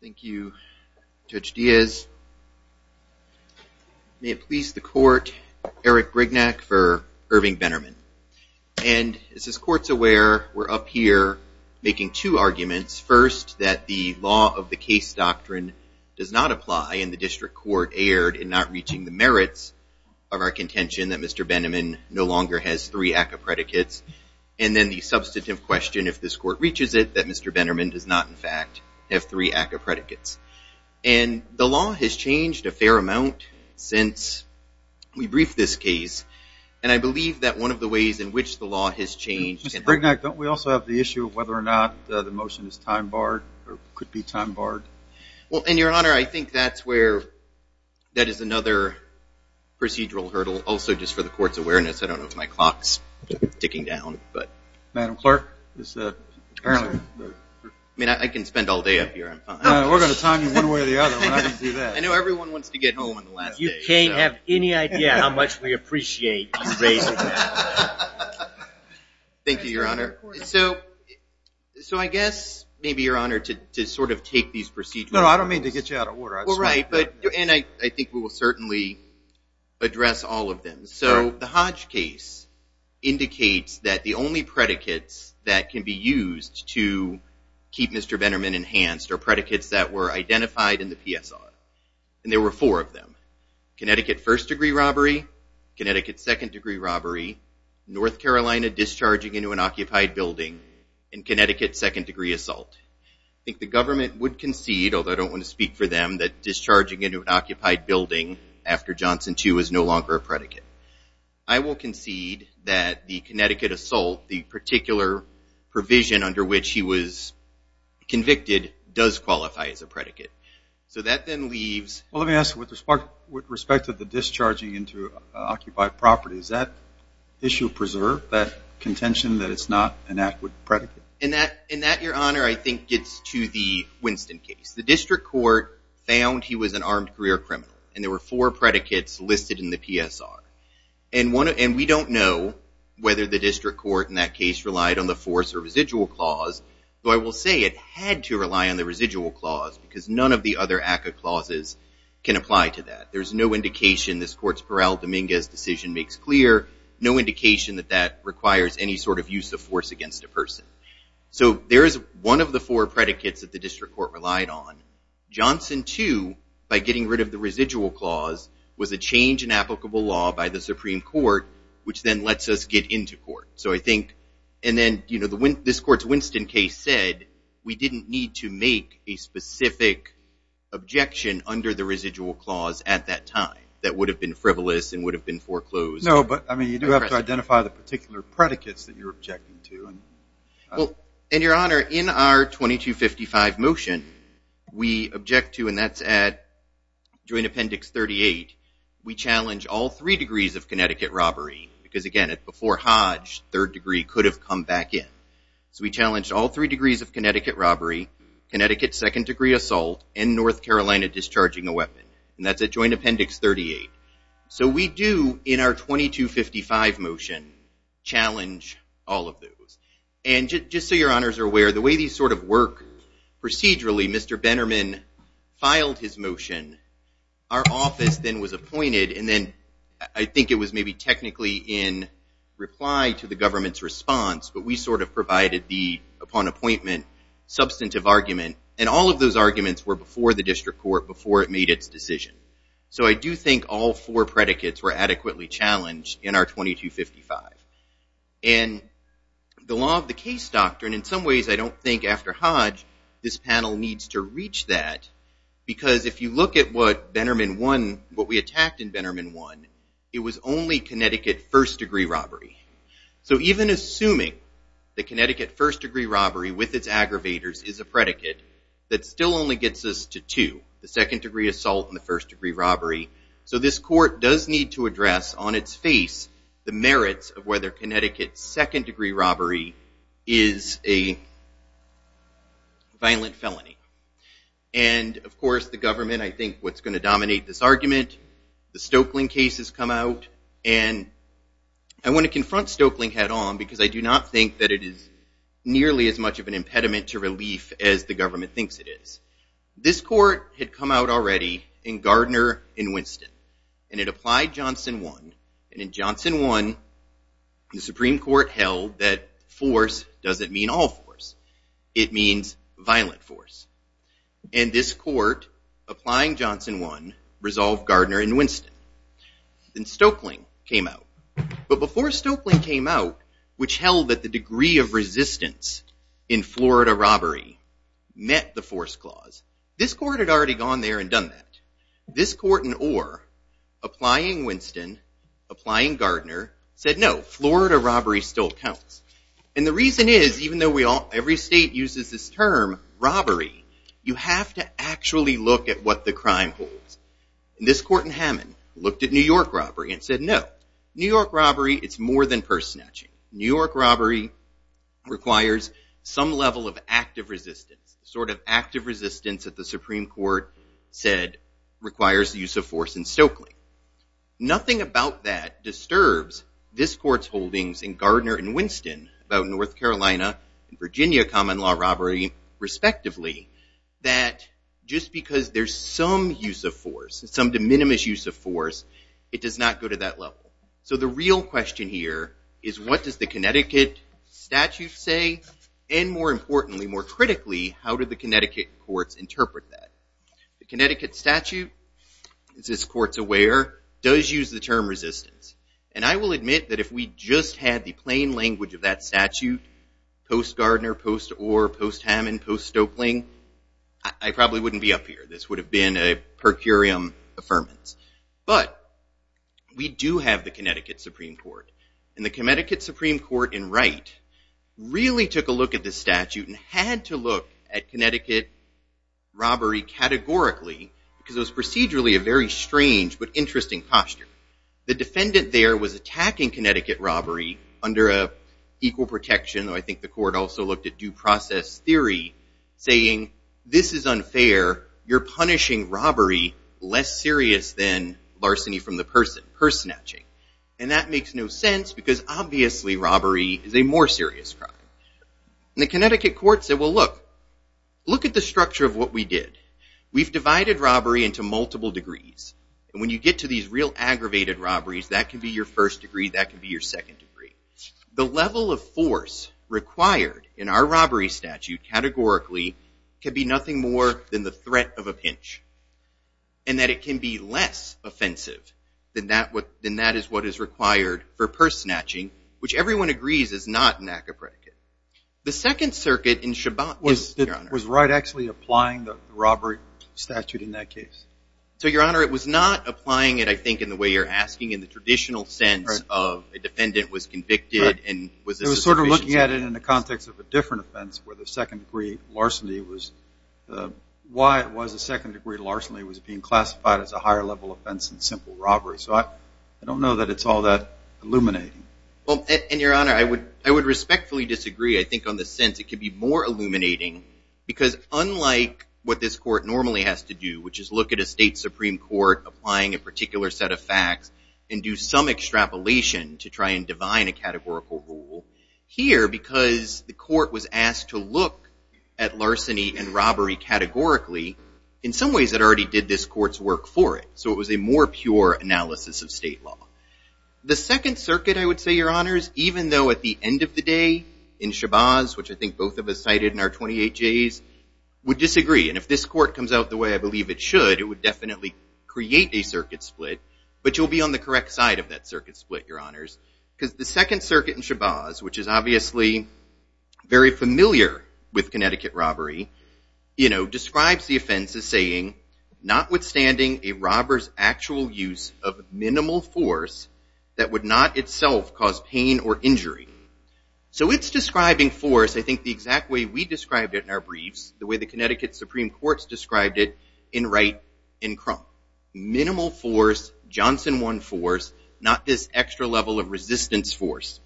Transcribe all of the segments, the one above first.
Thank you, Judge Diaz. May it please the court, Eric Brignac for Irving Bennerman. And as this court's aware, we're up here making two arguments. First, that the law of the case doctrine does not apply and the district court erred in not reaching the merits of our contention that Mr. Bennerman no longer has three ACCA predicates. And then the substantive question, if this court reaches it, that Mr. Bennerman does not, in fact, have three ACCA predicates. And the law has changed a fair amount since we briefed this case. And I believe that one of the ways in which the law has changed- Mr. Brignac, don't we also have the issue of whether or not the motion is time barred or could be time barred? Mr. Brignac Well, in your honor, I think that's where that is another procedural hurdle. Also, just for the court's awareness, I don't know if my clock's ticking down, but- Judge Brignac Madam Clerk, this apparently- Mr. Brignac I mean, I can spend all day up here. Judge Brignac We're going to time you one way or the other, but I didn't do that. Mr. Brignac I know everyone wants to get home on the last day. Judge Sotomayor You can't have any idea how much we appreciate you raising that. Mr. Brignac Thank you, your honor. So I guess maybe your procedural- Judge Sotomayor No, I don't mean to get you out of order. Mr. Brignac Well, right. And I think we will certainly address all of them. So the Hodge case indicates that the only predicates that can be used to keep Mr. Venderman enhanced are predicates that were identified in the PSR. And there were four of them. Connecticut first degree robbery, Connecticut second degree robbery, North Carolina discharging into an occupied building after Johnson 2 is no longer a predicate. I will concede that the Connecticut assault, the particular provision under which he was convicted, does qualify as a predicate. So that then leaves- Judge Brignac Well, let me ask you, with respect to the discharging into occupied property, does that issue preserve that contention that it's not an adequate predicate? Mr. Brignac And that, your honor, I think gets to the issue. The district court found he was an armed career criminal. And there were four predicates listed in the PSR. And we don't know whether the district court in that case relied on the force or residual clause. But I will say it had to rely on the residual clause because none of the other ACCA clauses can apply to that. There's no indication this court's Peral Dominguez decision makes clear, no indication that that requires any sort of use of force against a person. So there is one of the four predicates that the district court relied on. Johnson, too, by getting rid of the residual clause, was a change in applicable law by the Supreme Court, which then lets us get into court. So I think- and then this court's Winston case said we didn't need to make a specific objection under the residual clause at that time that would have been frivolous and would have been foreclosed. Judge Brignac No, but, I mean, you do have to identify the particular predicates that you're objecting to. Judge Brignac Well, and, Your Honor, in our 2255 motion, we object to, and that's at Joint Appendix 38, we challenge all three degrees of Connecticut robbery because, again, before Hodge, third degree could have come back in. So we challenged all three degrees of Connecticut robbery, Connecticut second degree assault, and North Carolina discharging a weapon. And that's at Joint Appendix 38. So we do, in our 2255 motion, challenge all of those. And just so Your Honors are aware, the way these sort of work procedurally, Mr. Benerman filed his motion. Our office then was appointed, and then I think it was maybe technically in reply to the government's response, but we sort of provided the, upon appointment, substantive argument. And all of those arguments were before the district court, before it made its decision. So I do think all four predicates were adequately challenged in our 2255. And the law of the case doctrine, in some ways I don't think, after Hodge, this panel needs to reach that because if you look at what Benerman won, what we attacked in Benerman won, it was only Connecticut first degree robbery. So even assuming that Connecticut first degree robbery with its aggravators is a predicate that still only gets us to two, the second degree assault and the first degree robbery. So this court does need to address on its face the merits of whether Connecticut's second degree robbery is a violent felony. And of course, the government, I think, what's going to dominate this argument, the Stokeling case has come out. And I want to confront Stokeling head on because I do not think that it is nearly as much of an impediment to relief as the government thinks it is. This court had come out already in Gardner and Winston. And it applied Johnson 1. And in Johnson 1, the Supreme Court held that force doesn't mean all force. It means violent force. And this court, applying Johnson 1, resolved Gardner and Winston. Then Stokeling came out. But before Stokeling came out, which held that the degree of resistance in Florida robbery met the force clause, this court had already gone there and done that. This court in Orr, applying Winston, applying Gardner, said no, Florida robbery still counts. And the reason is, even though every state uses this term, robbery, you have to actually look at what the crime holds. And this court in Hammond looked at New York robbery and said, no, New York robbery, it's more than purse robbery, requires some level of active resistance, sort of active resistance that the Supreme Court said requires the use of force in Stokeling. Nothing about that disturbs this court's holdings in Gardner and Winston about North Carolina and Virginia common law robbery, respectively, that just because there's some use of force, some de minimis use of force, it does not go to that level. So the real question here is, what does the Connecticut statute say? And more importantly, more critically, how did the Connecticut courts interpret that? The Connecticut statute, as this court's aware, does use the term resistance. And I will admit that if we just had the plain language of that statute, post-Gardner, post-Orr, post-Hammond, post-Stokeling, I probably wouldn't be up here. This would have been a per curiam affirmance. But we do have the Connecticut Supreme Court. And the Connecticut Supreme Court, in Wright, really took a look at this statute and had to look at Connecticut robbery categorically because it was procedurally a very strange but interesting posture. The defendant there was attacking Connecticut robbery under an equal protection. I think the court also looked at due process theory, saying, this is unfair. You're punishing robbery less serious than larceny from the person, purse snatching. And that makes no sense because obviously robbery is a more serious crime. And the Connecticut court said, well, look. Look at the structure of what we did. We've divided robbery into multiple degrees. And when you get to these real aggravated robberies, that can be your first degree. That can be your second degree. The level of force required in our robbery statute categorically can be nothing more than the threat of a pinch. And that it can be less offensive than that is what is required for purse snatching, which everyone agrees is not an act of predicate. The Second Circuit in Shabbat was, Your Honor. Was Wright actually applying the robbery statute in that case? So, Your Honor, it was not applying it, I think, in the way you're asking in the traditional sense of a defendant was convicted and was a suspicion of offense. It was sort of looking at it in the context of a different offense where the second degree of larceny was, why it was a second degree of larceny was being classified as a higher level offense than simple robbery. So I don't know that it's all that illuminating. Well, and Your Honor, I would respectfully disagree, I think, on the sense it could be more illuminating because unlike what this court normally has to do, which is look at a state supreme court applying a particular set of facts and do some extrapolation to try and divine a categorical rule, here because the court was asked to look at larceny and robbery categorically, in some ways it already did this court's work for it. So it was a more pure analysis of state law. The Second Circuit, I would say, Your Honors, even though at the end of the day in Shabbat, which I think both of us cited in our 28Js, would disagree. And if this court comes out the way I believe it should, it would definitely create a circuit split, but you'll be on the edge. Because the Second Circuit in Shabazz, which is obviously very familiar with Connecticut robbery, describes the offense as saying, notwithstanding a robber's actual use of minimal force that would not itself cause pain or injury. So it's describing force, I think, the exact way we described it in our briefs, the way the Connecticut Supreme Court's described it in Wright and Crump. Minimal force, Johnson 1 force, not this extra level of resistance force.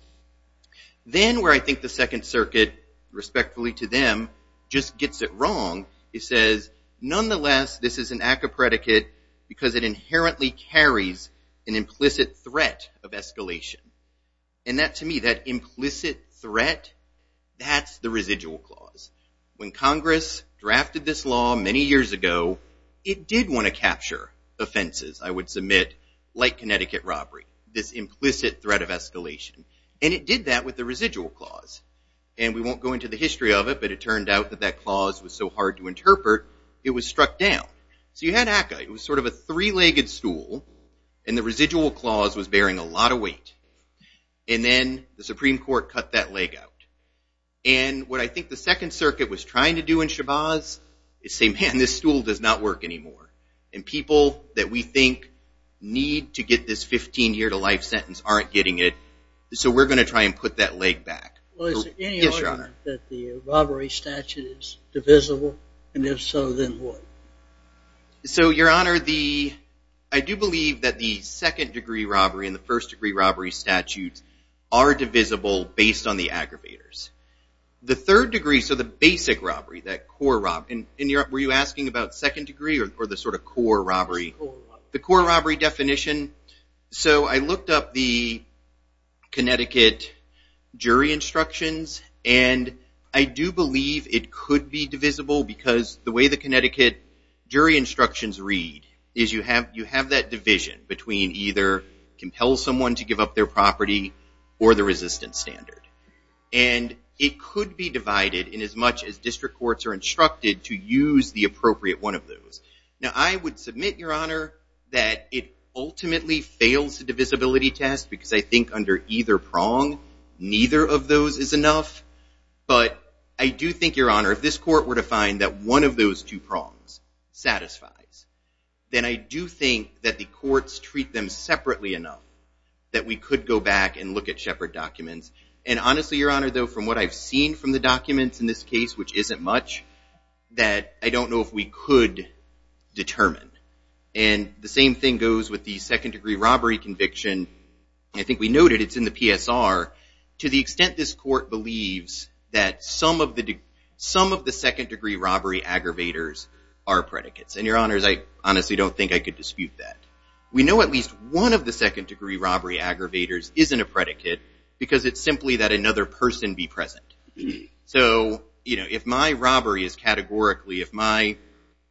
Then where I think the Second Circuit, respectfully to them, just gets it wrong, it says, nonetheless this is an act of predicate because it inherently carries an implicit threat of escalation. And that to me, that implicit threat, that's the residual clause. When Congress drafted this law many years ago, it did want to capture offenses, I would submit, like Connecticut robbery, this implicit threat of escalation. And it did that with the residual clause. And we won't go into the history of it, but it turned out that that clause was so hard to interpret, it was struck down. So you had ACCA. It was sort of a three-legged stool, and the residual clause was bearing a lot of weight. And then the Supreme Court cut that leg out. And what I think the Second Circuit is saying, man, this stool does not work anymore. And people that we think need to get this 15-year-to-life sentence aren't getting it. So we're going to try and put that leg back. Well, is there any argument that the robbery statute is divisible? And if so, then what? So Your Honor, I do believe that the second-degree robbery and the first-degree robbery statutes are divisible based on the aggravators. The third degree, so the basic robbery, that core robbery. And were you asking about second-degree or the sort of core robbery? The core robbery definition. So I looked up the Connecticut jury instructions, and I do believe it could be divisible because the way the Connecticut jury instructions read is you have that division between either compels someone to give up their property or the resistance standard. And it could be divided in as much as district courts are instructed to use the appropriate one of those. Now, I would submit, Your Honor, that it ultimately fails the divisibility test because I think under either prong, neither of those is enough. But I do think, Your Honor, if this court were to find that one of those two prongs satisfies, then I do think that the courts treat them separately enough that we could go back and look at Shepard documents. And honestly, Your Honor, though, from what I've seen from the documents in this case, which isn't much, that I don't know if we could determine. And the same thing goes with the second-degree robbery conviction. I think we noted it's in the PSR. To the extent this court believes that some of the second-degree robbery aggravators are predicates. And Your Honors, I honestly don't think I could dispute that. We know at least one of the second-degree robbery aggravators isn't a predicate because it's simply that another person be present. So, you know, if my robbery is categorically, if my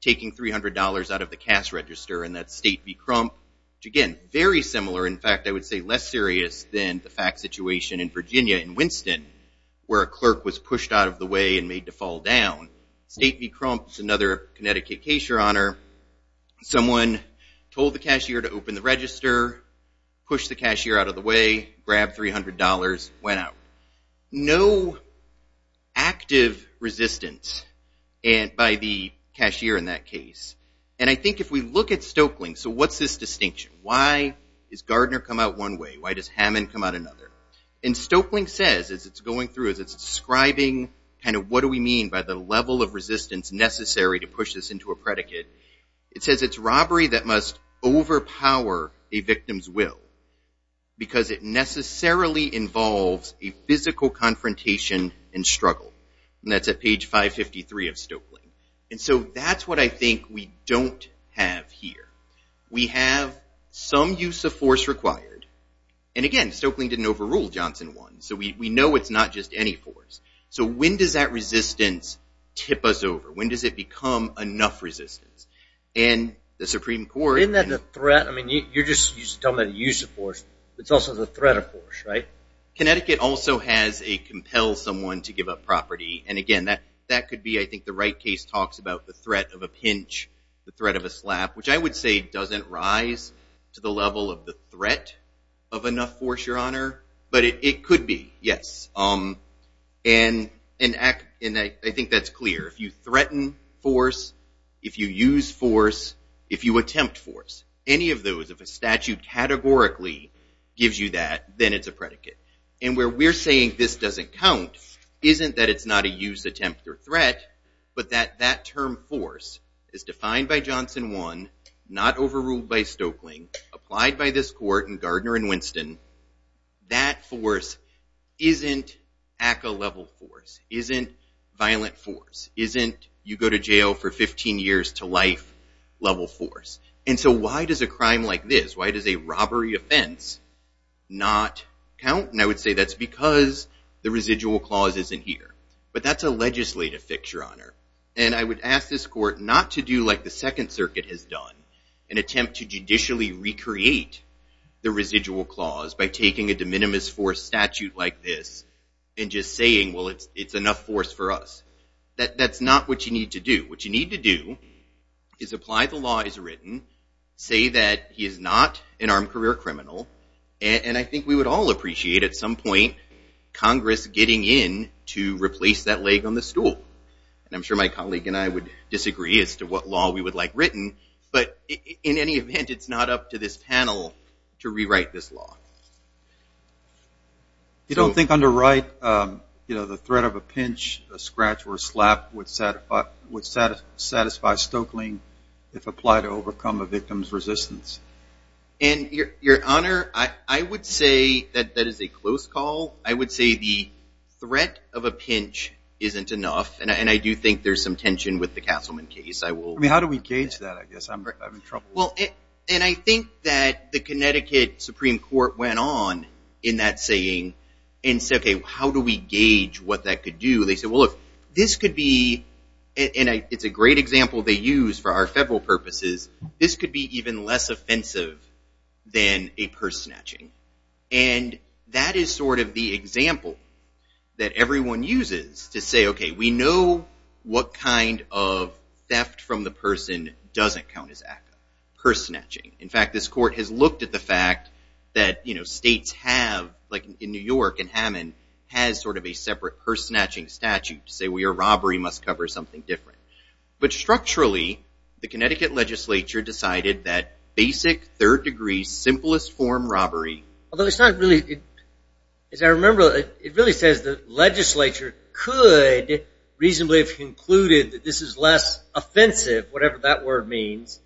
taking $300 out of the cash register and that State v. Crump, again, very similar. In fact, I would say less serious than the fact situation in Virginia in Winston where a clerk was pushed out of the way and made to fall down. State v. Crump is another Connecticut case, Your Honor. Someone told the cashier to open the register, pushed the cashier out of the way, grabbed $300, went out. No active resistance by the cashier in that case. And I think if we look at Stoeckling, so what's this distinction? Why does Gardner come out one way? Why does Hammond come out another? And Stoeckling says, as it's going through, as it's describing kind of what do we mean by the level of resistance necessary to push this into a predicate, it says it's robbery that must overpower a victim's will because it necessarily involves a physical confrontation and struggle. And that's at page 553 of Stoeckling. And so that's what I think we don't have here. We have some use of force required. And again, Stoeckling didn't overrule Johnson 1. So we know it's not just any force. So when does that resistance tip us over? When does it become enough resistance? And the Supreme Court- Isn't that a threat? I mean, you're just telling me to use a force. It's also the threat of force, right? Connecticut also has a compel someone to give up property. And again, that could be, I think, the right case talks about the threat of a pinch, the threat of a slap, which I would say doesn't rise to the level of the threat of enough force, Your Honor. But it could be, yes. And I think that's clear. If you threaten force, if you use force, if you attempt force, any of those, if a statute categorically gives you that, then it's a predicate. And where we're saying this doesn't count isn't that it's not a use, attempt, or threat, but that that term force is defined by Johnson 1, not overruled by Stoeckling, applied by this court in Gardner and Winston. That force isn't ACCA-level force, isn't violent force, isn't you go to jail for 15 years to life-level force. And so why does a crime like this, why does a robbery offense not count? And I would say that's because the residual clause isn't here. But that's a legislative fix, Your Honor. And I would ask this court not to do like the Second Circuit has done and attempt to judicially recreate the residual clause by taking a de minimis force statute like this and just saying, well, it's enough force for us. That's not what you need to do. What you need to do is apply the law as written, say that he is not an armed career criminal, and I think we would all appreciate at some point Congress getting in to replace that leg on the stool. And I'm sure my colleague and I would disagree as to what law we would like written, but in any event, it's not up to this panel to rewrite this law. You don't think under Wright, the threat of a pinch, a scratch, or a slap would satisfy Stoeckling if applied to overcome a victim's resistance? And Your Honor, I would say that that is a close call. I would say the threat of a pinch isn't enough, and I do think there's some tension with the Castleman case. I mean, how do we gauge that? I guess I'm in trouble. And I think that the Connecticut Supreme Court went on in that saying and said, OK, how do we gauge what that could do? They said, well, look, this could be, and it's a great example they use for our federal purposes, this could be even less offensive than a purse snatching. And that is sort of the example that everyone uses to say, OK, we know what kind of theft from the person doesn't count as purse snatching. In fact, this court has looked at the fact that states have, like in New York and Hammond, has sort of a separate purse snatching statute to say a robbery must cover something different. But structurally, the Connecticut legislature decided that basic, third degree, simplest form robbery, although it's not really, as I remember, it really says the legislature could reasonably have concluded that this is less offensive, whatever that word means,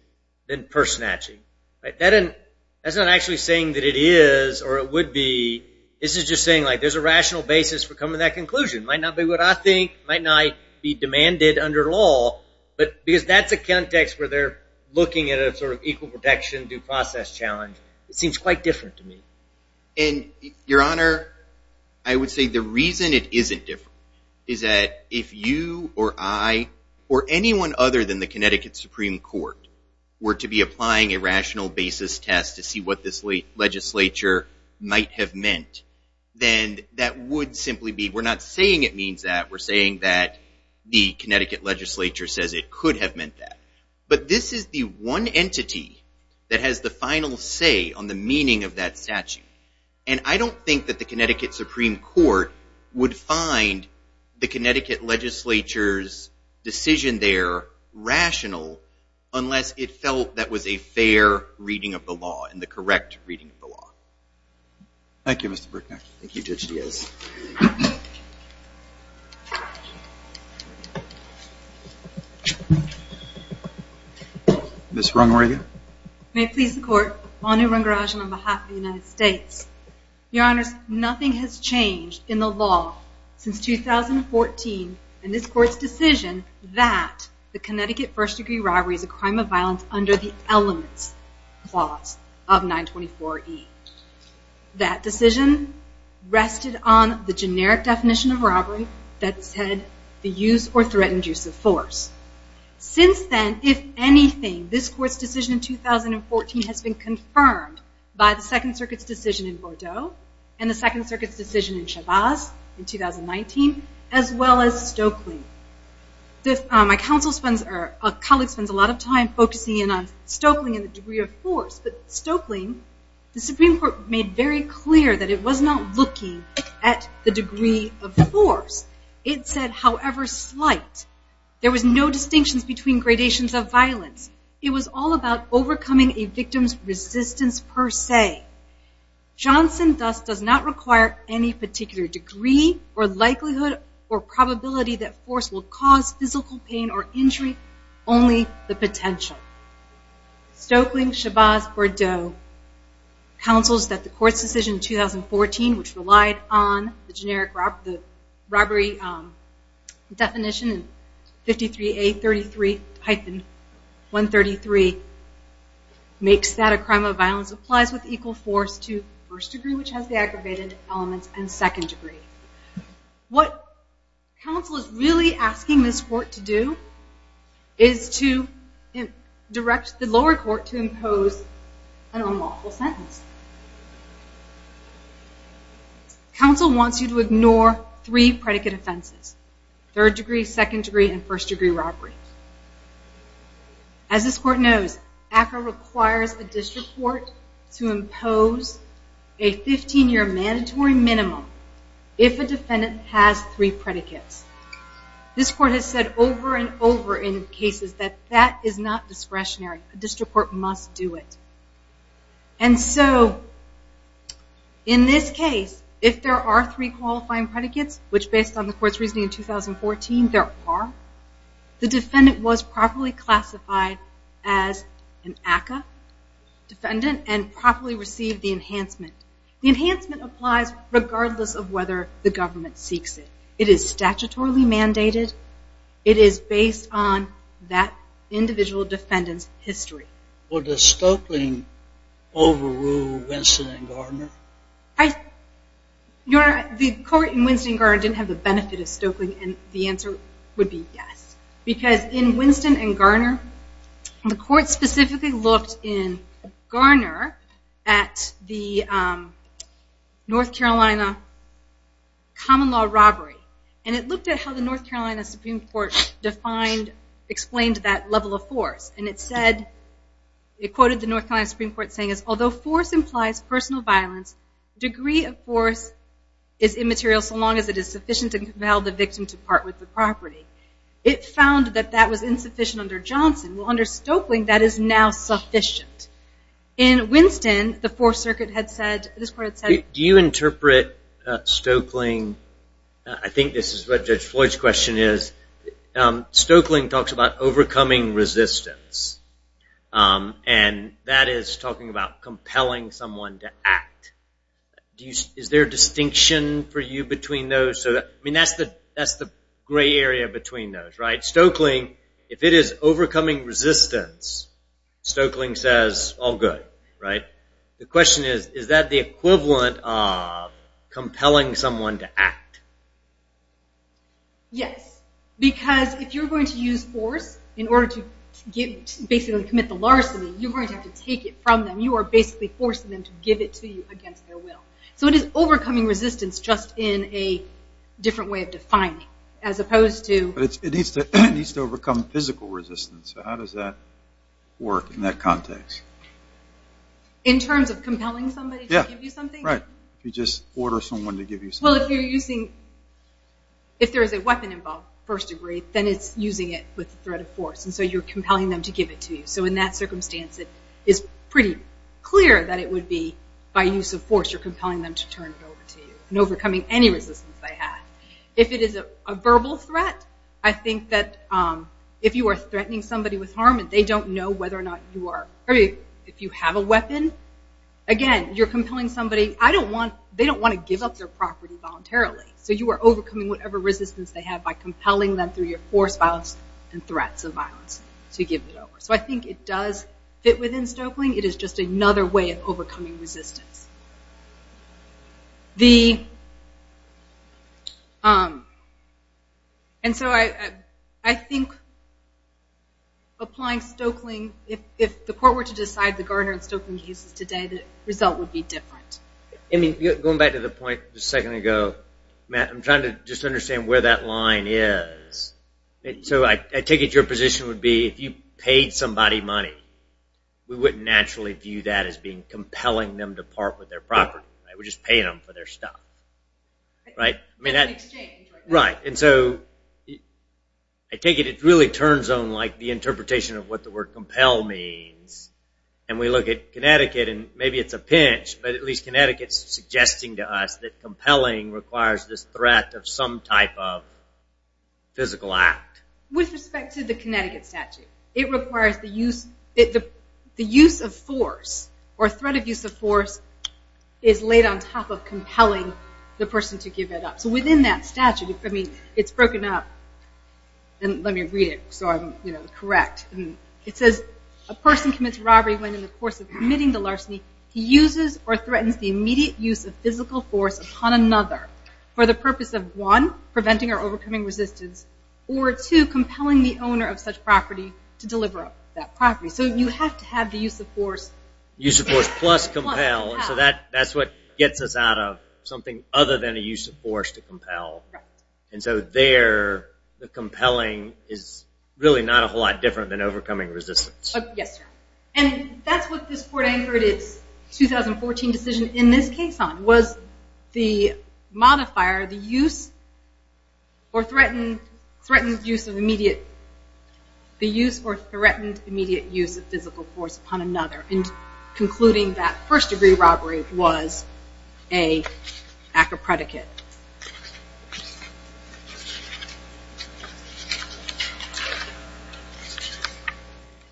than purse snatching. That's not actually saying that it is or it would be. This is just saying, like, there's a rational basis for coming to that conclusion. It might not be what I think. It might not be demanded under law. But because that's a context where they're looking at a sort of equal protection, due process challenge, it seems quite different to me. And Your Honor, I would say the reason it isn't different is that if you or I or anyone other than the Connecticut Supreme Court were to be applying a rational basis test to see what this legislature might have meant, then that would simply be, we're not saying it is. The Connecticut legislature says it could have meant that. But this is the one entity that has the final say on the meaning of that statute. And I don't think that the Connecticut Supreme Court would find the Connecticut legislature's decision there rational unless it felt that was a fair reading of the law and the correct reading of the law. Thank you, Mr. Brickneck. Thank you, Judge Diaz. Ms. Rung, where are you? May it please the Court, Anu Rungarajan on behalf of the United States. Your Honors, nothing has changed in the law since 2014 in this Court's decision that the Connecticut First Degree Robbery is a crime of violence under the Elements Clause of 924E. That decision rested on the generic definition of robbery that said the use or threatened use of force. Since then, if anything, this Court's decision in 2014 has been confirmed by the Second Circuit's decision in Bordeaux and the Second Circuit's decision in Chavez in 2019, as well as Stokely. My colleague spends a lot of time focusing in on Stokely and the degree of force, but Stokely, the Supreme Court made very clear that it was not looking at the degree of force. It said, however slight. There was no distinctions between gradations of violence. It was all about overcoming a victim's resistance per se. Johnson, thus, does not require any particular degree or likelihood or probability that force will cause physical pain or injury, only the potential. Stokely, Chavez, Bordeaux counsels that the Court's decision in 2014, which relied on the generic robbery definition 53A33-133 makes that a crime of violence applies with equal force to first degree, which has the aggravated elements, and second degree. What counsel is really asking this Court to do is to direct the lower court to impose an unlawful sentence. Counsel wants you to ignore three predicate offenses, third degree, second degree, and first degree robberies. As this Court knows, ACRA requires a district court to impose a 15-year mandatory minimum if a defendant has three predicates. This Court has said over and over in cases that that is not discretionary. A district court must do it. In this case, if there are three qualifying predicates, which based on the Court's reasoning in 2014, there are, the defendant was properly classified as an ACRA defendant and properly received the enhancement. The enhancement applies regardless of whether the government seeks it. It is statutorily mandated. It is based on that individual defendant's history. Well, does Stokely overrule Winston and Gardner? Your Honor, the Court in Winston and Gardner didn't have the benefit of Stokely, and the answer would be yes, because in Winston and Gardner, the Court specifically looked in Gardner at the North Carolina common law robbery, and it looked at how the North Carolina Supreme Court defined, explained that level of force, and it said, it quoted the North Carolina Supreme Court saying, although force implies personal violence, degree of force is immaterial so long as it is sufficient to compel the victim to part with the property. It found that that was insufficient under Johnson. Well, under Stokely, that is now sufficient. In Winston, the Fourth Circuit had said, this Court had said... Do you interpret Stokely, I think this is what Judge Floyd's question is, Stokely talks about overcoming resistance, and that is talking about compelling someone to act. Is there a distinction for you between those? I mean, that's the gray area between those, right? Stokely, if it is overcoming resistance, Stokely says, all good, right? The question is, is that the equivalent of compelling someone to act? Yes, because if you're going to use force in order to basically commit the larceny, you're going to have to take it from them. You are basically forcing them to give it to you against their will. So it is overcoming resistance just in a different way of defining, as opposed to... But it needs to overcome physical resistance, so how does that work in that context? In terms of compelling somebody to give you something? Yeah, right. If you just order someone to give you something. Well, if you're using... If there is a weapon involved, first degree, then it's using it with the threat of force, and so you're compelling them to give it to you. So in that circumstance, it is pretty clear that it would be by use of force, you're compelling them to turn it over to you, and overcoming any resistance they have. If it is a verbal threat, I think that if you are threatening somebody with harm, and they don't know whether or not you are... If you have a weapon, again, you're compelling somebody... I don't want... They don't want to give up their property voluntarily, so you are overcoming whatever resistance they have by compelling them through your force violence and threats of violence to give it over. So I think it does fit within Stokeling. It is just another way of overcoming resistance. And so I think applying Stokeling... If the court were to decide the Gardner and Stokeling cases today, the result would be different. Going back to the point a second ago, Matt, I'm trying to just understand where that line is. So I take it your position would be if you paid somebody money, we wouldn't naturally view that as being compelling them to part with their property. We're just paying them for their stuff. Right? In exchange. Right. And so I take it it really turns on the interpretation of what the word compel means. And we look at Connecticut, and maybe it's a pinch, but at least Connecticut is suggesting to us that compelling requires this threat of some type of physical act. With respect to the Connecticut statute, it requires the use... The use of force or threat of use of force is laid on top of compelling the person to give it up. So within that statute, I mean, it's broken up. And let me read it so I'm correct. It says, a person commits robbery when in the course of committing the larceny he uses or threatens the immediate use of physical force upon another for the purpose of, one, preventing or overcoming resistance, or two, compelling the owner of such property to deliver up that property. So you have to have the use of force... Use of force plus compel. Plus compel. That's what gets us out of something other than a use of force to compel. Right. And so there, the compelling is really not a whole lot different than overcoming resistance. Yes, sir. And that's what this court anchored its 2014 decision in this case on, was the modifier, the use or threatened use of immediate... The use or threatened immediate use of physical force upon another. And concluding that first-degree robbery was a act of predicate.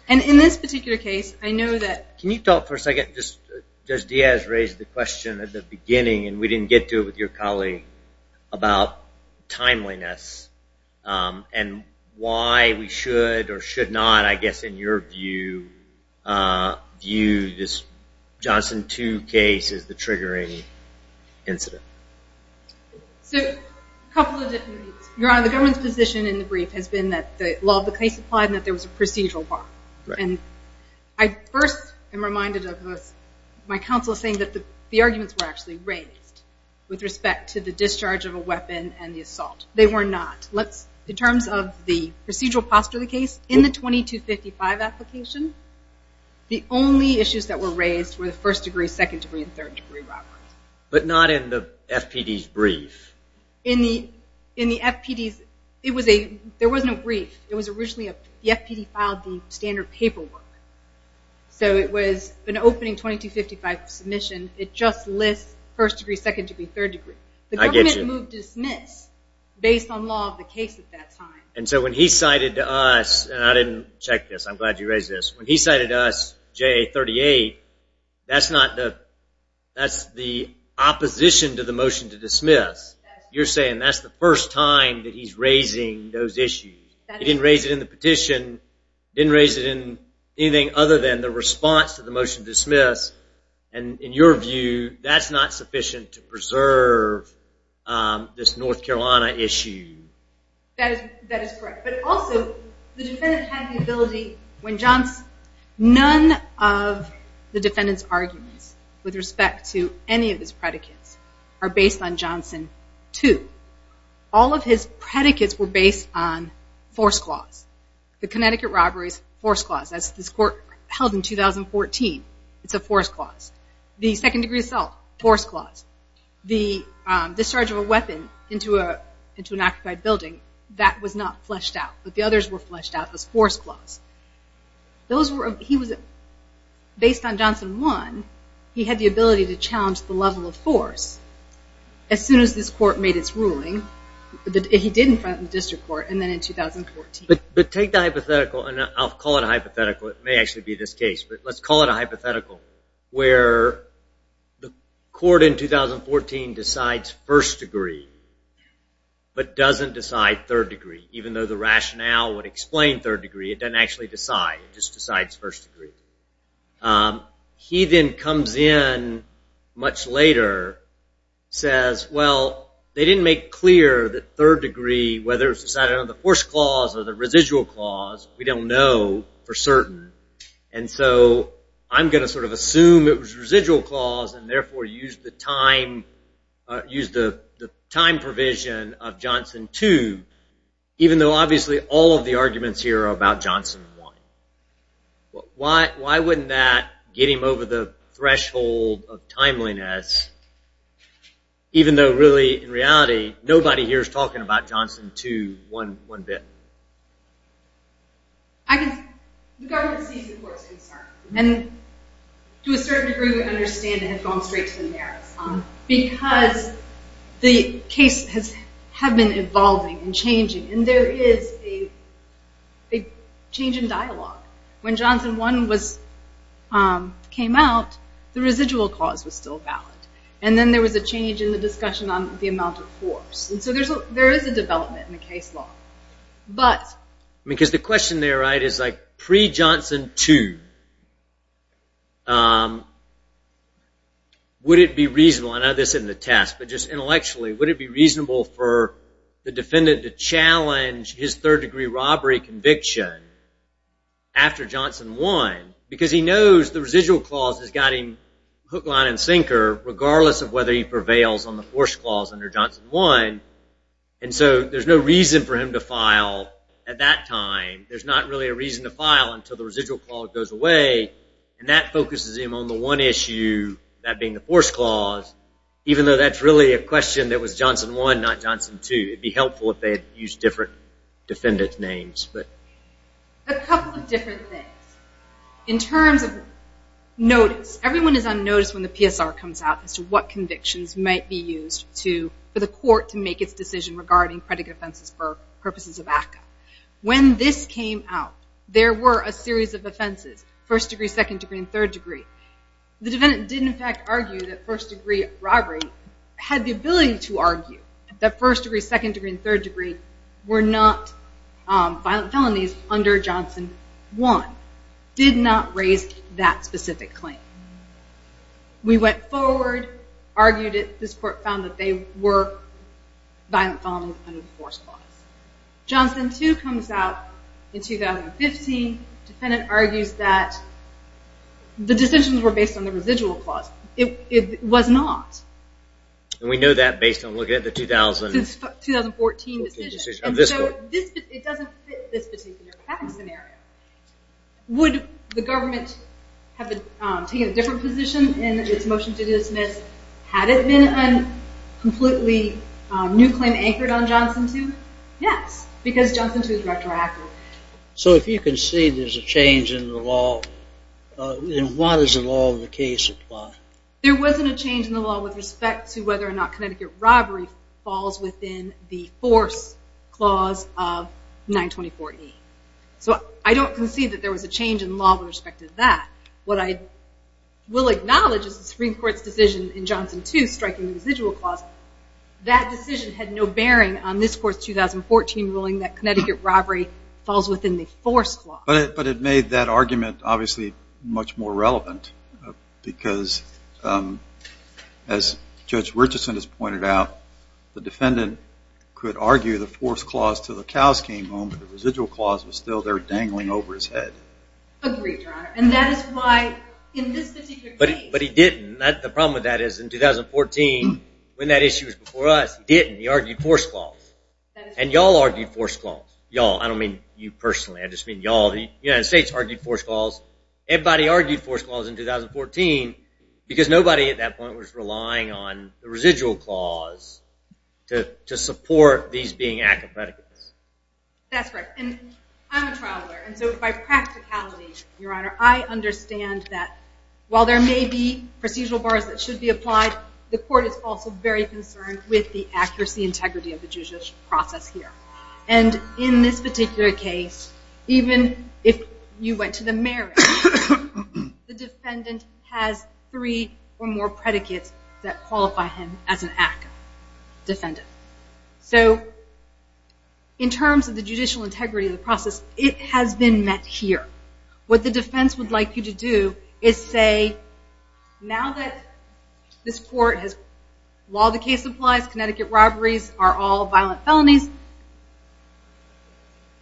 And in this particular case, I know that... Can you talk for a second, just... Just Diaz raised the question at the beginning, and we didn't get to it with your colleague, about timeliness and why we should or should not, I guess, in your view, view this Johnson 2 case as the triggering incident. So, a couple of different views. Your Honor, the government's position in the brief has been that the law of the case applied and that there was a procedural part. Right. And I first am reminded of my counsel saying that the arguments were actually raised with respect to the discharge of a weapon and the assault. They were not. In terms of the procedural posture of the case, in the 2255 application, the only issues that were raised were the first-degree, second-degree, and third-degree robberies. But not in the FPD's brief. In the FPD's... There wasn't a brief. It was originally... The FPD filed the standard paperwork. So, it was an opening 2255 submission. It just lists first-degree, second-degree, third-degree. I get you. Based on law of the case at that time. And so, when he cited to us... And I didn't check this. I'm glad you raised this. When he cited to us JA 38, that's not the... That's the opposition to the motion to dismiss. You're saying that's the first time that he's raising those issues. He didn't raise it in the petition. He didn't raise it in anything other than the response to the this North Carolina issue. That is correct. But also, the defendant had the ability... When Johnson... None of the defendant's arguments with respect to any of his predicates are based on Johnson 2. All of his predicates were based on force clause. The Connecticut robberies, force clause. That's this court held in 2014. It's a force clause. The second-degree assault, force clause. The discharge of a weapon into an occupied building, that was not fleshed out. But the others were fleshed out. It was force clause. Those were... He was... Based on Johnson 1, he had the ability to challenge the level of force as soon as this court made its ruling. He did in front of the district court, and then in 2014. But take the hypothetical, and I'll call it a hypothetical. It may actually be this case. But let's call it a hypothetical, where the court in 2014 decides first degree, but doesn't decide third degree, even though the rationale would explain third degree. It doesn't actually decide. It just decides first degree. He then comes in much later, says, well, they didn't make clear that third degree, whether it was decided under the force clause or the residual clause, we don't know for certain. And so I'm going to sort of assume it was residual clause, and therefore use the time provision of Johnson 2, even though obviously all of the arguments here are about Johnson 1. Why wouldn't that get him over the threshold of timeliness, even though really, in reality, nobody here is talking about Johnson 2 one bit? The government sees the court's concern. And to a certain degree, we understand it had gone straight to the merits. Because the case has been evolving and changing, and there is a change in dialogue. When Johnson 1 came out, the residual clause was still valid. And then there was a change in the discussion on the amount of force. And so there is a development in the case law. Because the question there is, pre-Johnson 2, would it be reasonable? I know this isn't a test, but just intellectually, would it be reasonable for the defendant to challenge his third degree robbery conviction after Johnson 1? Because he knows the residual clause has got him hook, line, and sinker, and so there's no reason for him to file at that time. There's not really a reason to file until the residual clause goes away. And that focuses him on the one issue, that being the force clause, even though that's really a question that was Johnson 1, not Johnson 2. It would be helpful if they had used different defendant names. A couple of different things. In terms of notice, everyone is on notice when the PSR comes out as to what convictions might be used for the court to make its decision regarding predicate offenses for purposes of ACCA. When this came out, there were a series of offenses, first degree, second degree, and third degree. The defendant did, in fact, argue that first degree robbery had the ability to argue that first degree, second degree, and third degree were not violent felonies under Johnson 1. Did not raise that specific claim. We went forward, argued it. This court found that they were violent felonies under the force clause. Johnson 2 comes out in 2015. Defendant argues that the decisions were based on the residual clause. It was not. And we know that based on looking at the 2014 decision. And so it doesn't fit this particular case scenario. Would the government have taken a different position in its motion to dismiss had it been a completely new claim anchored on Johnson 2? Yes, because Johnson 2 is retroactive. So if you can see there's a change in the law, then why does the law of the case apply? There wasn't a change in the law with respect to whether or not predicate robbery falls within the force clause of 924E. So I don't concede that there was a change in law with respect to that. What I will acknowledge is the Supreme Court's decision in Johnson 2, striking the residual clause, that decision had no bearing on this court's 2014 ruling that Connecticut robbery falls within the force clause. But it made that argument obviously much more relevant because as Judge Richardson has pointed out, the defendant could argue the force clause to the cows came home but the residual clause was still there dangling over his head. Agreed, Your Honor. And that is why in this particular case... But he didn't. The problem with that is in 2014 when that issue was before us, he didn't. He argued force clause. And y'all argued force clause. Y'all. I don't mean you personally. I just mean y'all. The United States argued force clause. Everybody argued force clause in 2014 because nobody at that point was relying on the residual clause to support these being active predicates. That's right. And I'm a trial lawyer. And so by practicality, Your Honor, I understand that while there may be procedural bars that should be applied, the court is also very concerned with the accuracy, integrity of the judicial process here. And in this particular case, even if you went to the marriage, the defendant has three or more predicates that qualify him as an active defendant. So in terms of the judicial integrity of the process, it has been met here. What the defense would like you to do is say, now that this court has, while the case applies, Connecticut robberies are all violent felonies,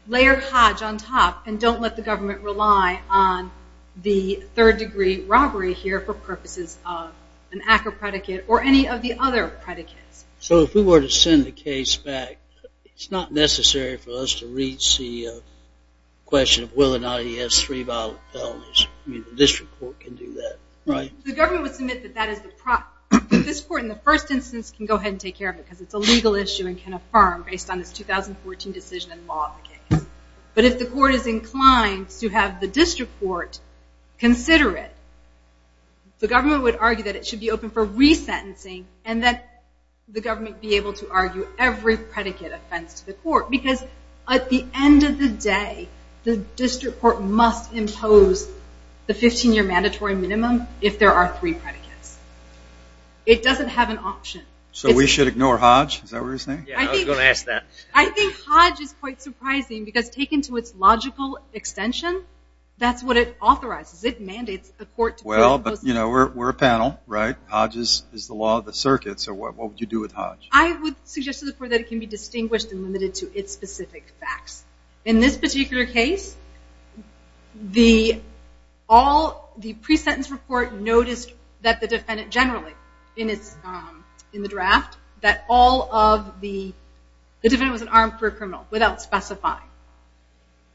layer Hodge on top and don't let the government rely on the third degree robbery here for purposes of an active predicate or any of the other predicates. So if we were to send the case back, it's not necessary for us to reach the question of whether or not he has three violent felonies. I mean, the district court can do that, right? The government would submit that that is the problem. This court in the first instance can go ahead and take care of it because it's a legal issue and can affirm based on this 2014 decision and law of the case. But if the court is inclined to have the district court consider it, the government would argue that it should be open for resentencing and that the government be able to argue every predicate offense to the court because at the end of the day, the district court must impose the 15-year mandatory minimum if there are three predicates. It doesn't have an option. So we should ignore Hodge? Is that what you're saying? Yeah, I was going to ask that. I think Hodge is quite surprising because taken to its logical extension, that's what it authorizes. It mandates the court to put it in place. Well, but we're a panel, right? This is the law of the circuit. So what would you do with Hodge? I would suggest to the court that it can be distinguished and limited to its specific facts. In this particular case, the pre-sentence report noticed that the defendant generally in the draft that all of the – the defendant was an armed career criminal without specifying.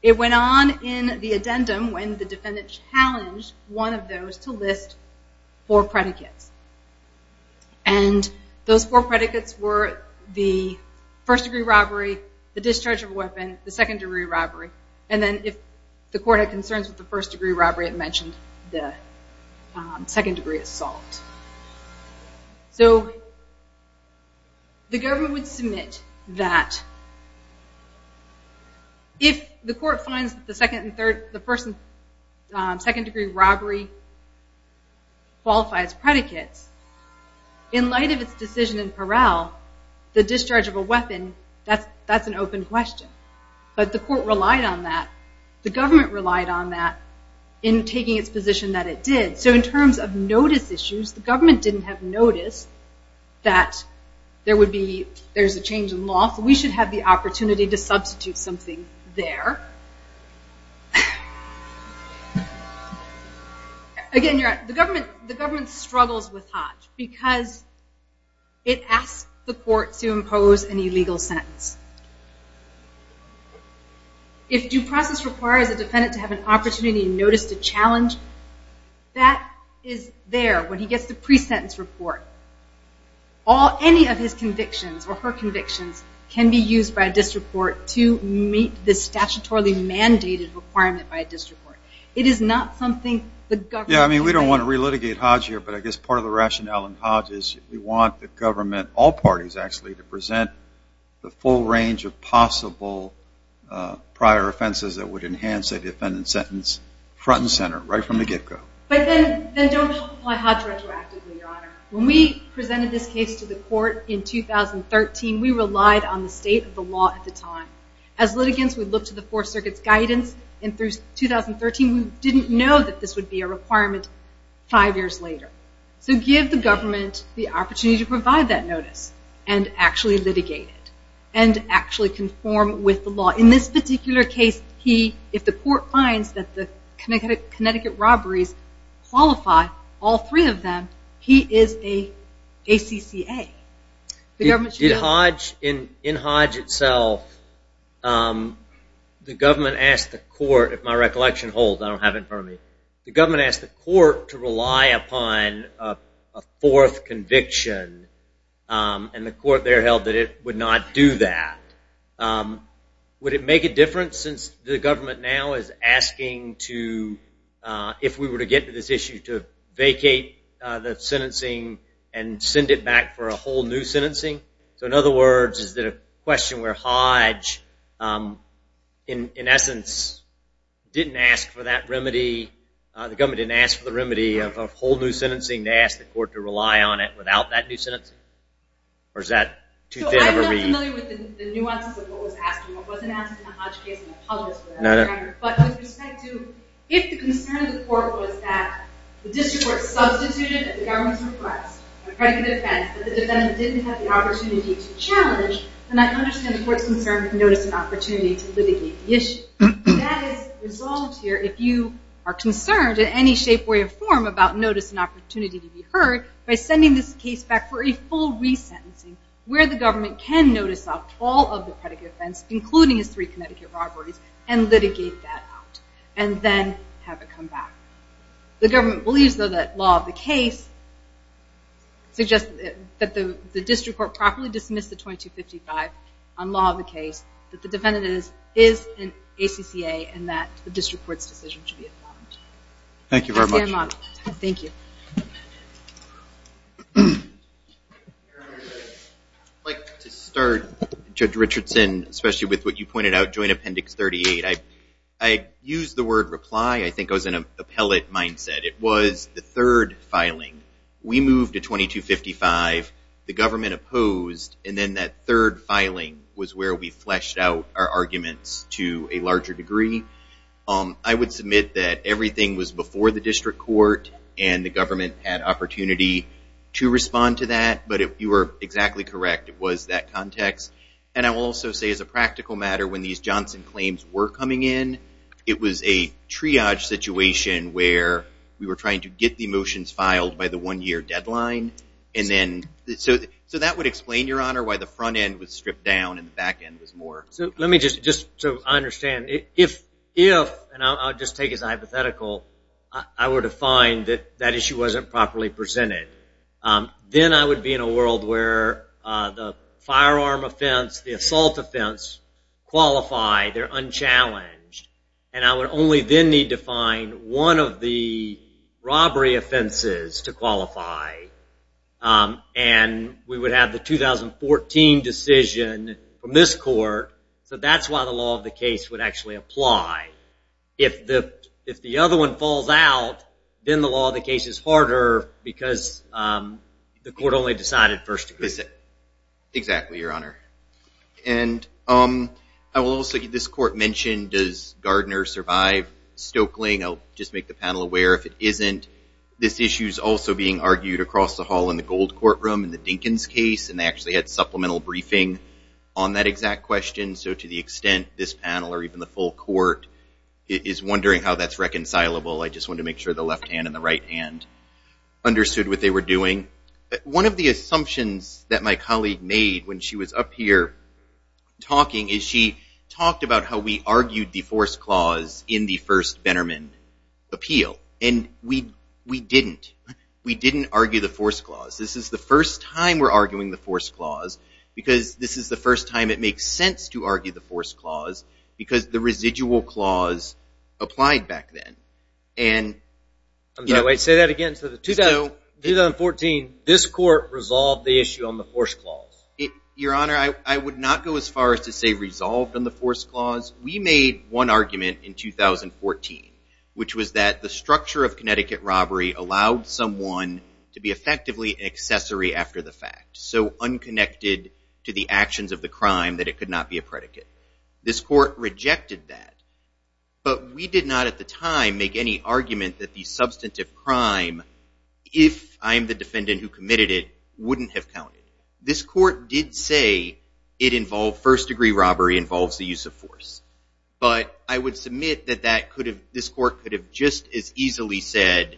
It went on in the addendum when the defendant challenged one of those to list four predicates. And those four predicates were the first-degree robbery, the discharge of a weapon, the second-degree robbery. And then if the court had concerns with the first-degree robbery, it mentioned the second-degree assault. So the government would submit that if the court finds that the second and third – the first and second-degree robbery qualifies predicates, in light of its decision in Peral, the discharge of a weapon, that's an open question. But the court relied on that. The government relied on that in taking its position that it did. So in terms of notice issues, the government didn't have notice that there would be – there's a change in law, so we should have the opportunity to substitute something there. Again, the government struggles with Hodge because it asks the court to impose an illegal sentence. If due process requires a defendant to have an opportunity in notice to challenge, that is there when he gets the pre-sentence report. Any of his convictions or her convictions can be used by a district court to meet the statutorily mandated requirement by a district court. It is not something the government – Yeah, I mean, we don't want to relitigate Hodge here, but I guess part of the rationale in Hodge is we want the government – possible prior offenses that would enhance a defendant's sentence front and center, right from the get-go. But then don't apply Hodge retroactively, Your Honor. When we presented this case to the court in 2013, we relied on the state of the law at the time. As litigants, we looked to the Fourth Circuit's guidance, and through 2013 we didn't know that this would be a requirement five years later. So give the government the opportunity to provide that notice and actually litigate it. And actually conform with the law. In this particular case, if the court finds that the Connecticut robberies qualify, all three of them, he is an ACCA. In Hodge itself, the government asked the court – if my recollection holds, I don't have it in front of me. The government asked the court to rely upon a fourth conviction, and the court there held that it would not do that. Would it make a difference since the government now is asking to – if we were to get to this issue, to vacate the sentencing and send it back for a whole new sentencing? So in other words, is it a question where Hodge, in essence, didn't ask for that remedy – the government didn't ask for the remedy of whole new sentencing. They asked the court to rely on it without that new sentencing? Or is that too thin of a reason? I'm not familiar with the nuances of what was asked. It wasn't asked in the Hodge case, and I apologize for that. No, no. But with respect to – if the concern of the court was that the district court substituted the government's request for a predicate of defense, but the defendant didn't have the opportunity to challenge, then I understand the court's concern with notice and opportunity to litigate the issue. That is resolved here if you are concerned in any shape, way, or form about notice and opportunity to be heard by sending this case back for a full resentencing where the government can notice up all of the predicate offense, including his three Connecticut robberies, and litigate that out, and then have it come back. The government believes, though, that law of the case suggests that the district court properly dismiss the 2255 on law of the case, that the defendant is an ACCA, and that the district court's decision should be affirmed. Thank you very much. Thank you. I'd like to start, Judge Richardson, especially with what you pointed out, Joint Appendix 38. I used the word reply. I think I was in an appellate mindset. It was the third filing. We moved to 2255, the government opposed, and then that third filing was where we fleshed out our arguments to a larger degree. I would submit that everything was before the district court, and the government had opportunity to respond to that, but you were exactly correct. It was that context. And I will also say, as a practical matter, when these Johnson claims were coming in, it was a triage situation where we were trying to get the motions filed by the one-year deadline. So that would explain, Your Honor, why the front end was stripped down and the back end was more. Let me just so I understand. If, and I'll just take as a hypothetical, I were to find that that issue wasn't properly presented, then I would be in a world where the firearm offense, the assault offense, qualify. They're unchallenged. And I would only then need to find one of the robbery offenses to qualify, and we would have the 2014 decision from this court. So that's why the law of the case would actually apply. If the other one falls out, then the law of the case is harder because the court only decided first degree. Exactly, Your Honor. And I will also give this court mention, does Gardner survive Stoeckling? I'll just make the panel aware if it isn't. This issue is also being argued across the hall in the gold courtroom in the Dinkins case, and they actually had supplemental briefing on that exact question. So to the extent this panel or even the full court is wondering how that's reconcilable, I just want to make sure the left hand and the right hand understood what they were doing. One of the assumptions that my colleague made when she was up here talking is she talked about how we argued the force clause in the first Bennerman appeal. And we didn't. We didn't argue the force clause. This is the first time we're arguing the force clause because this is the first time it makes sense to argue the force clause because the residual clause applied back then. Say that again. In 2014, this court resolved the issue on the force clause. Your Honor, I would not go as far as to say resolved on the force clause. We made one argument in 2014, which was that the structure of Connecticut robbery allowed someone to be effectively an accessory after the fact, so unconnected to the actions of the crime that it could not be a predicate. This court rejected that, but we did not at the time make any argument that the substantive crime, if I'm the defendant who committed it, wouldn't have counted. This court did say it involved first-degree robbery, involves the use of force. But I would submit that this court could have just as easily said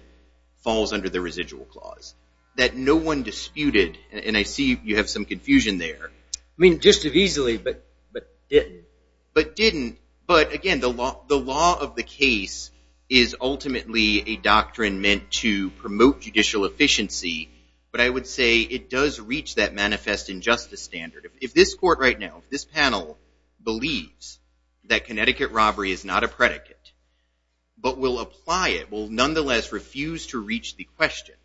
falls under the residual clause, that no one disputed. And I see you have some confusion there. I mean, just as easily, but didn't. But didn't. But again, the law of the case is ultimately a doctrine meant to promote judicial efficiency, but I would say it does reach that manifest injustice standard. If this court right now, if this panel, believes that Connecticut robbery is not a predicate, but will apply it, will nonetheless refuse to reach the question,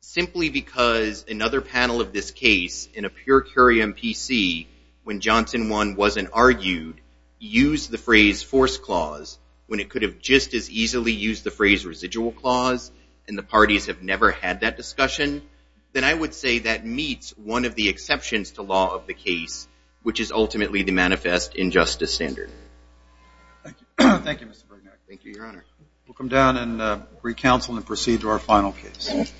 simply because another panel of this case, in a pure curiam PC, when Johnson won, wasn't argued, used the phrase force clause, when it could have just as easily used the phrase residual clause, and the parties have never had that discussion, then I would say that meets one of the exceptions to law of the case, which is ultimately the manifest injustice standard. Thank you, Mr. Brignac. Thank you, Your Honor. We'll come down and recounsel and proceed to our final case.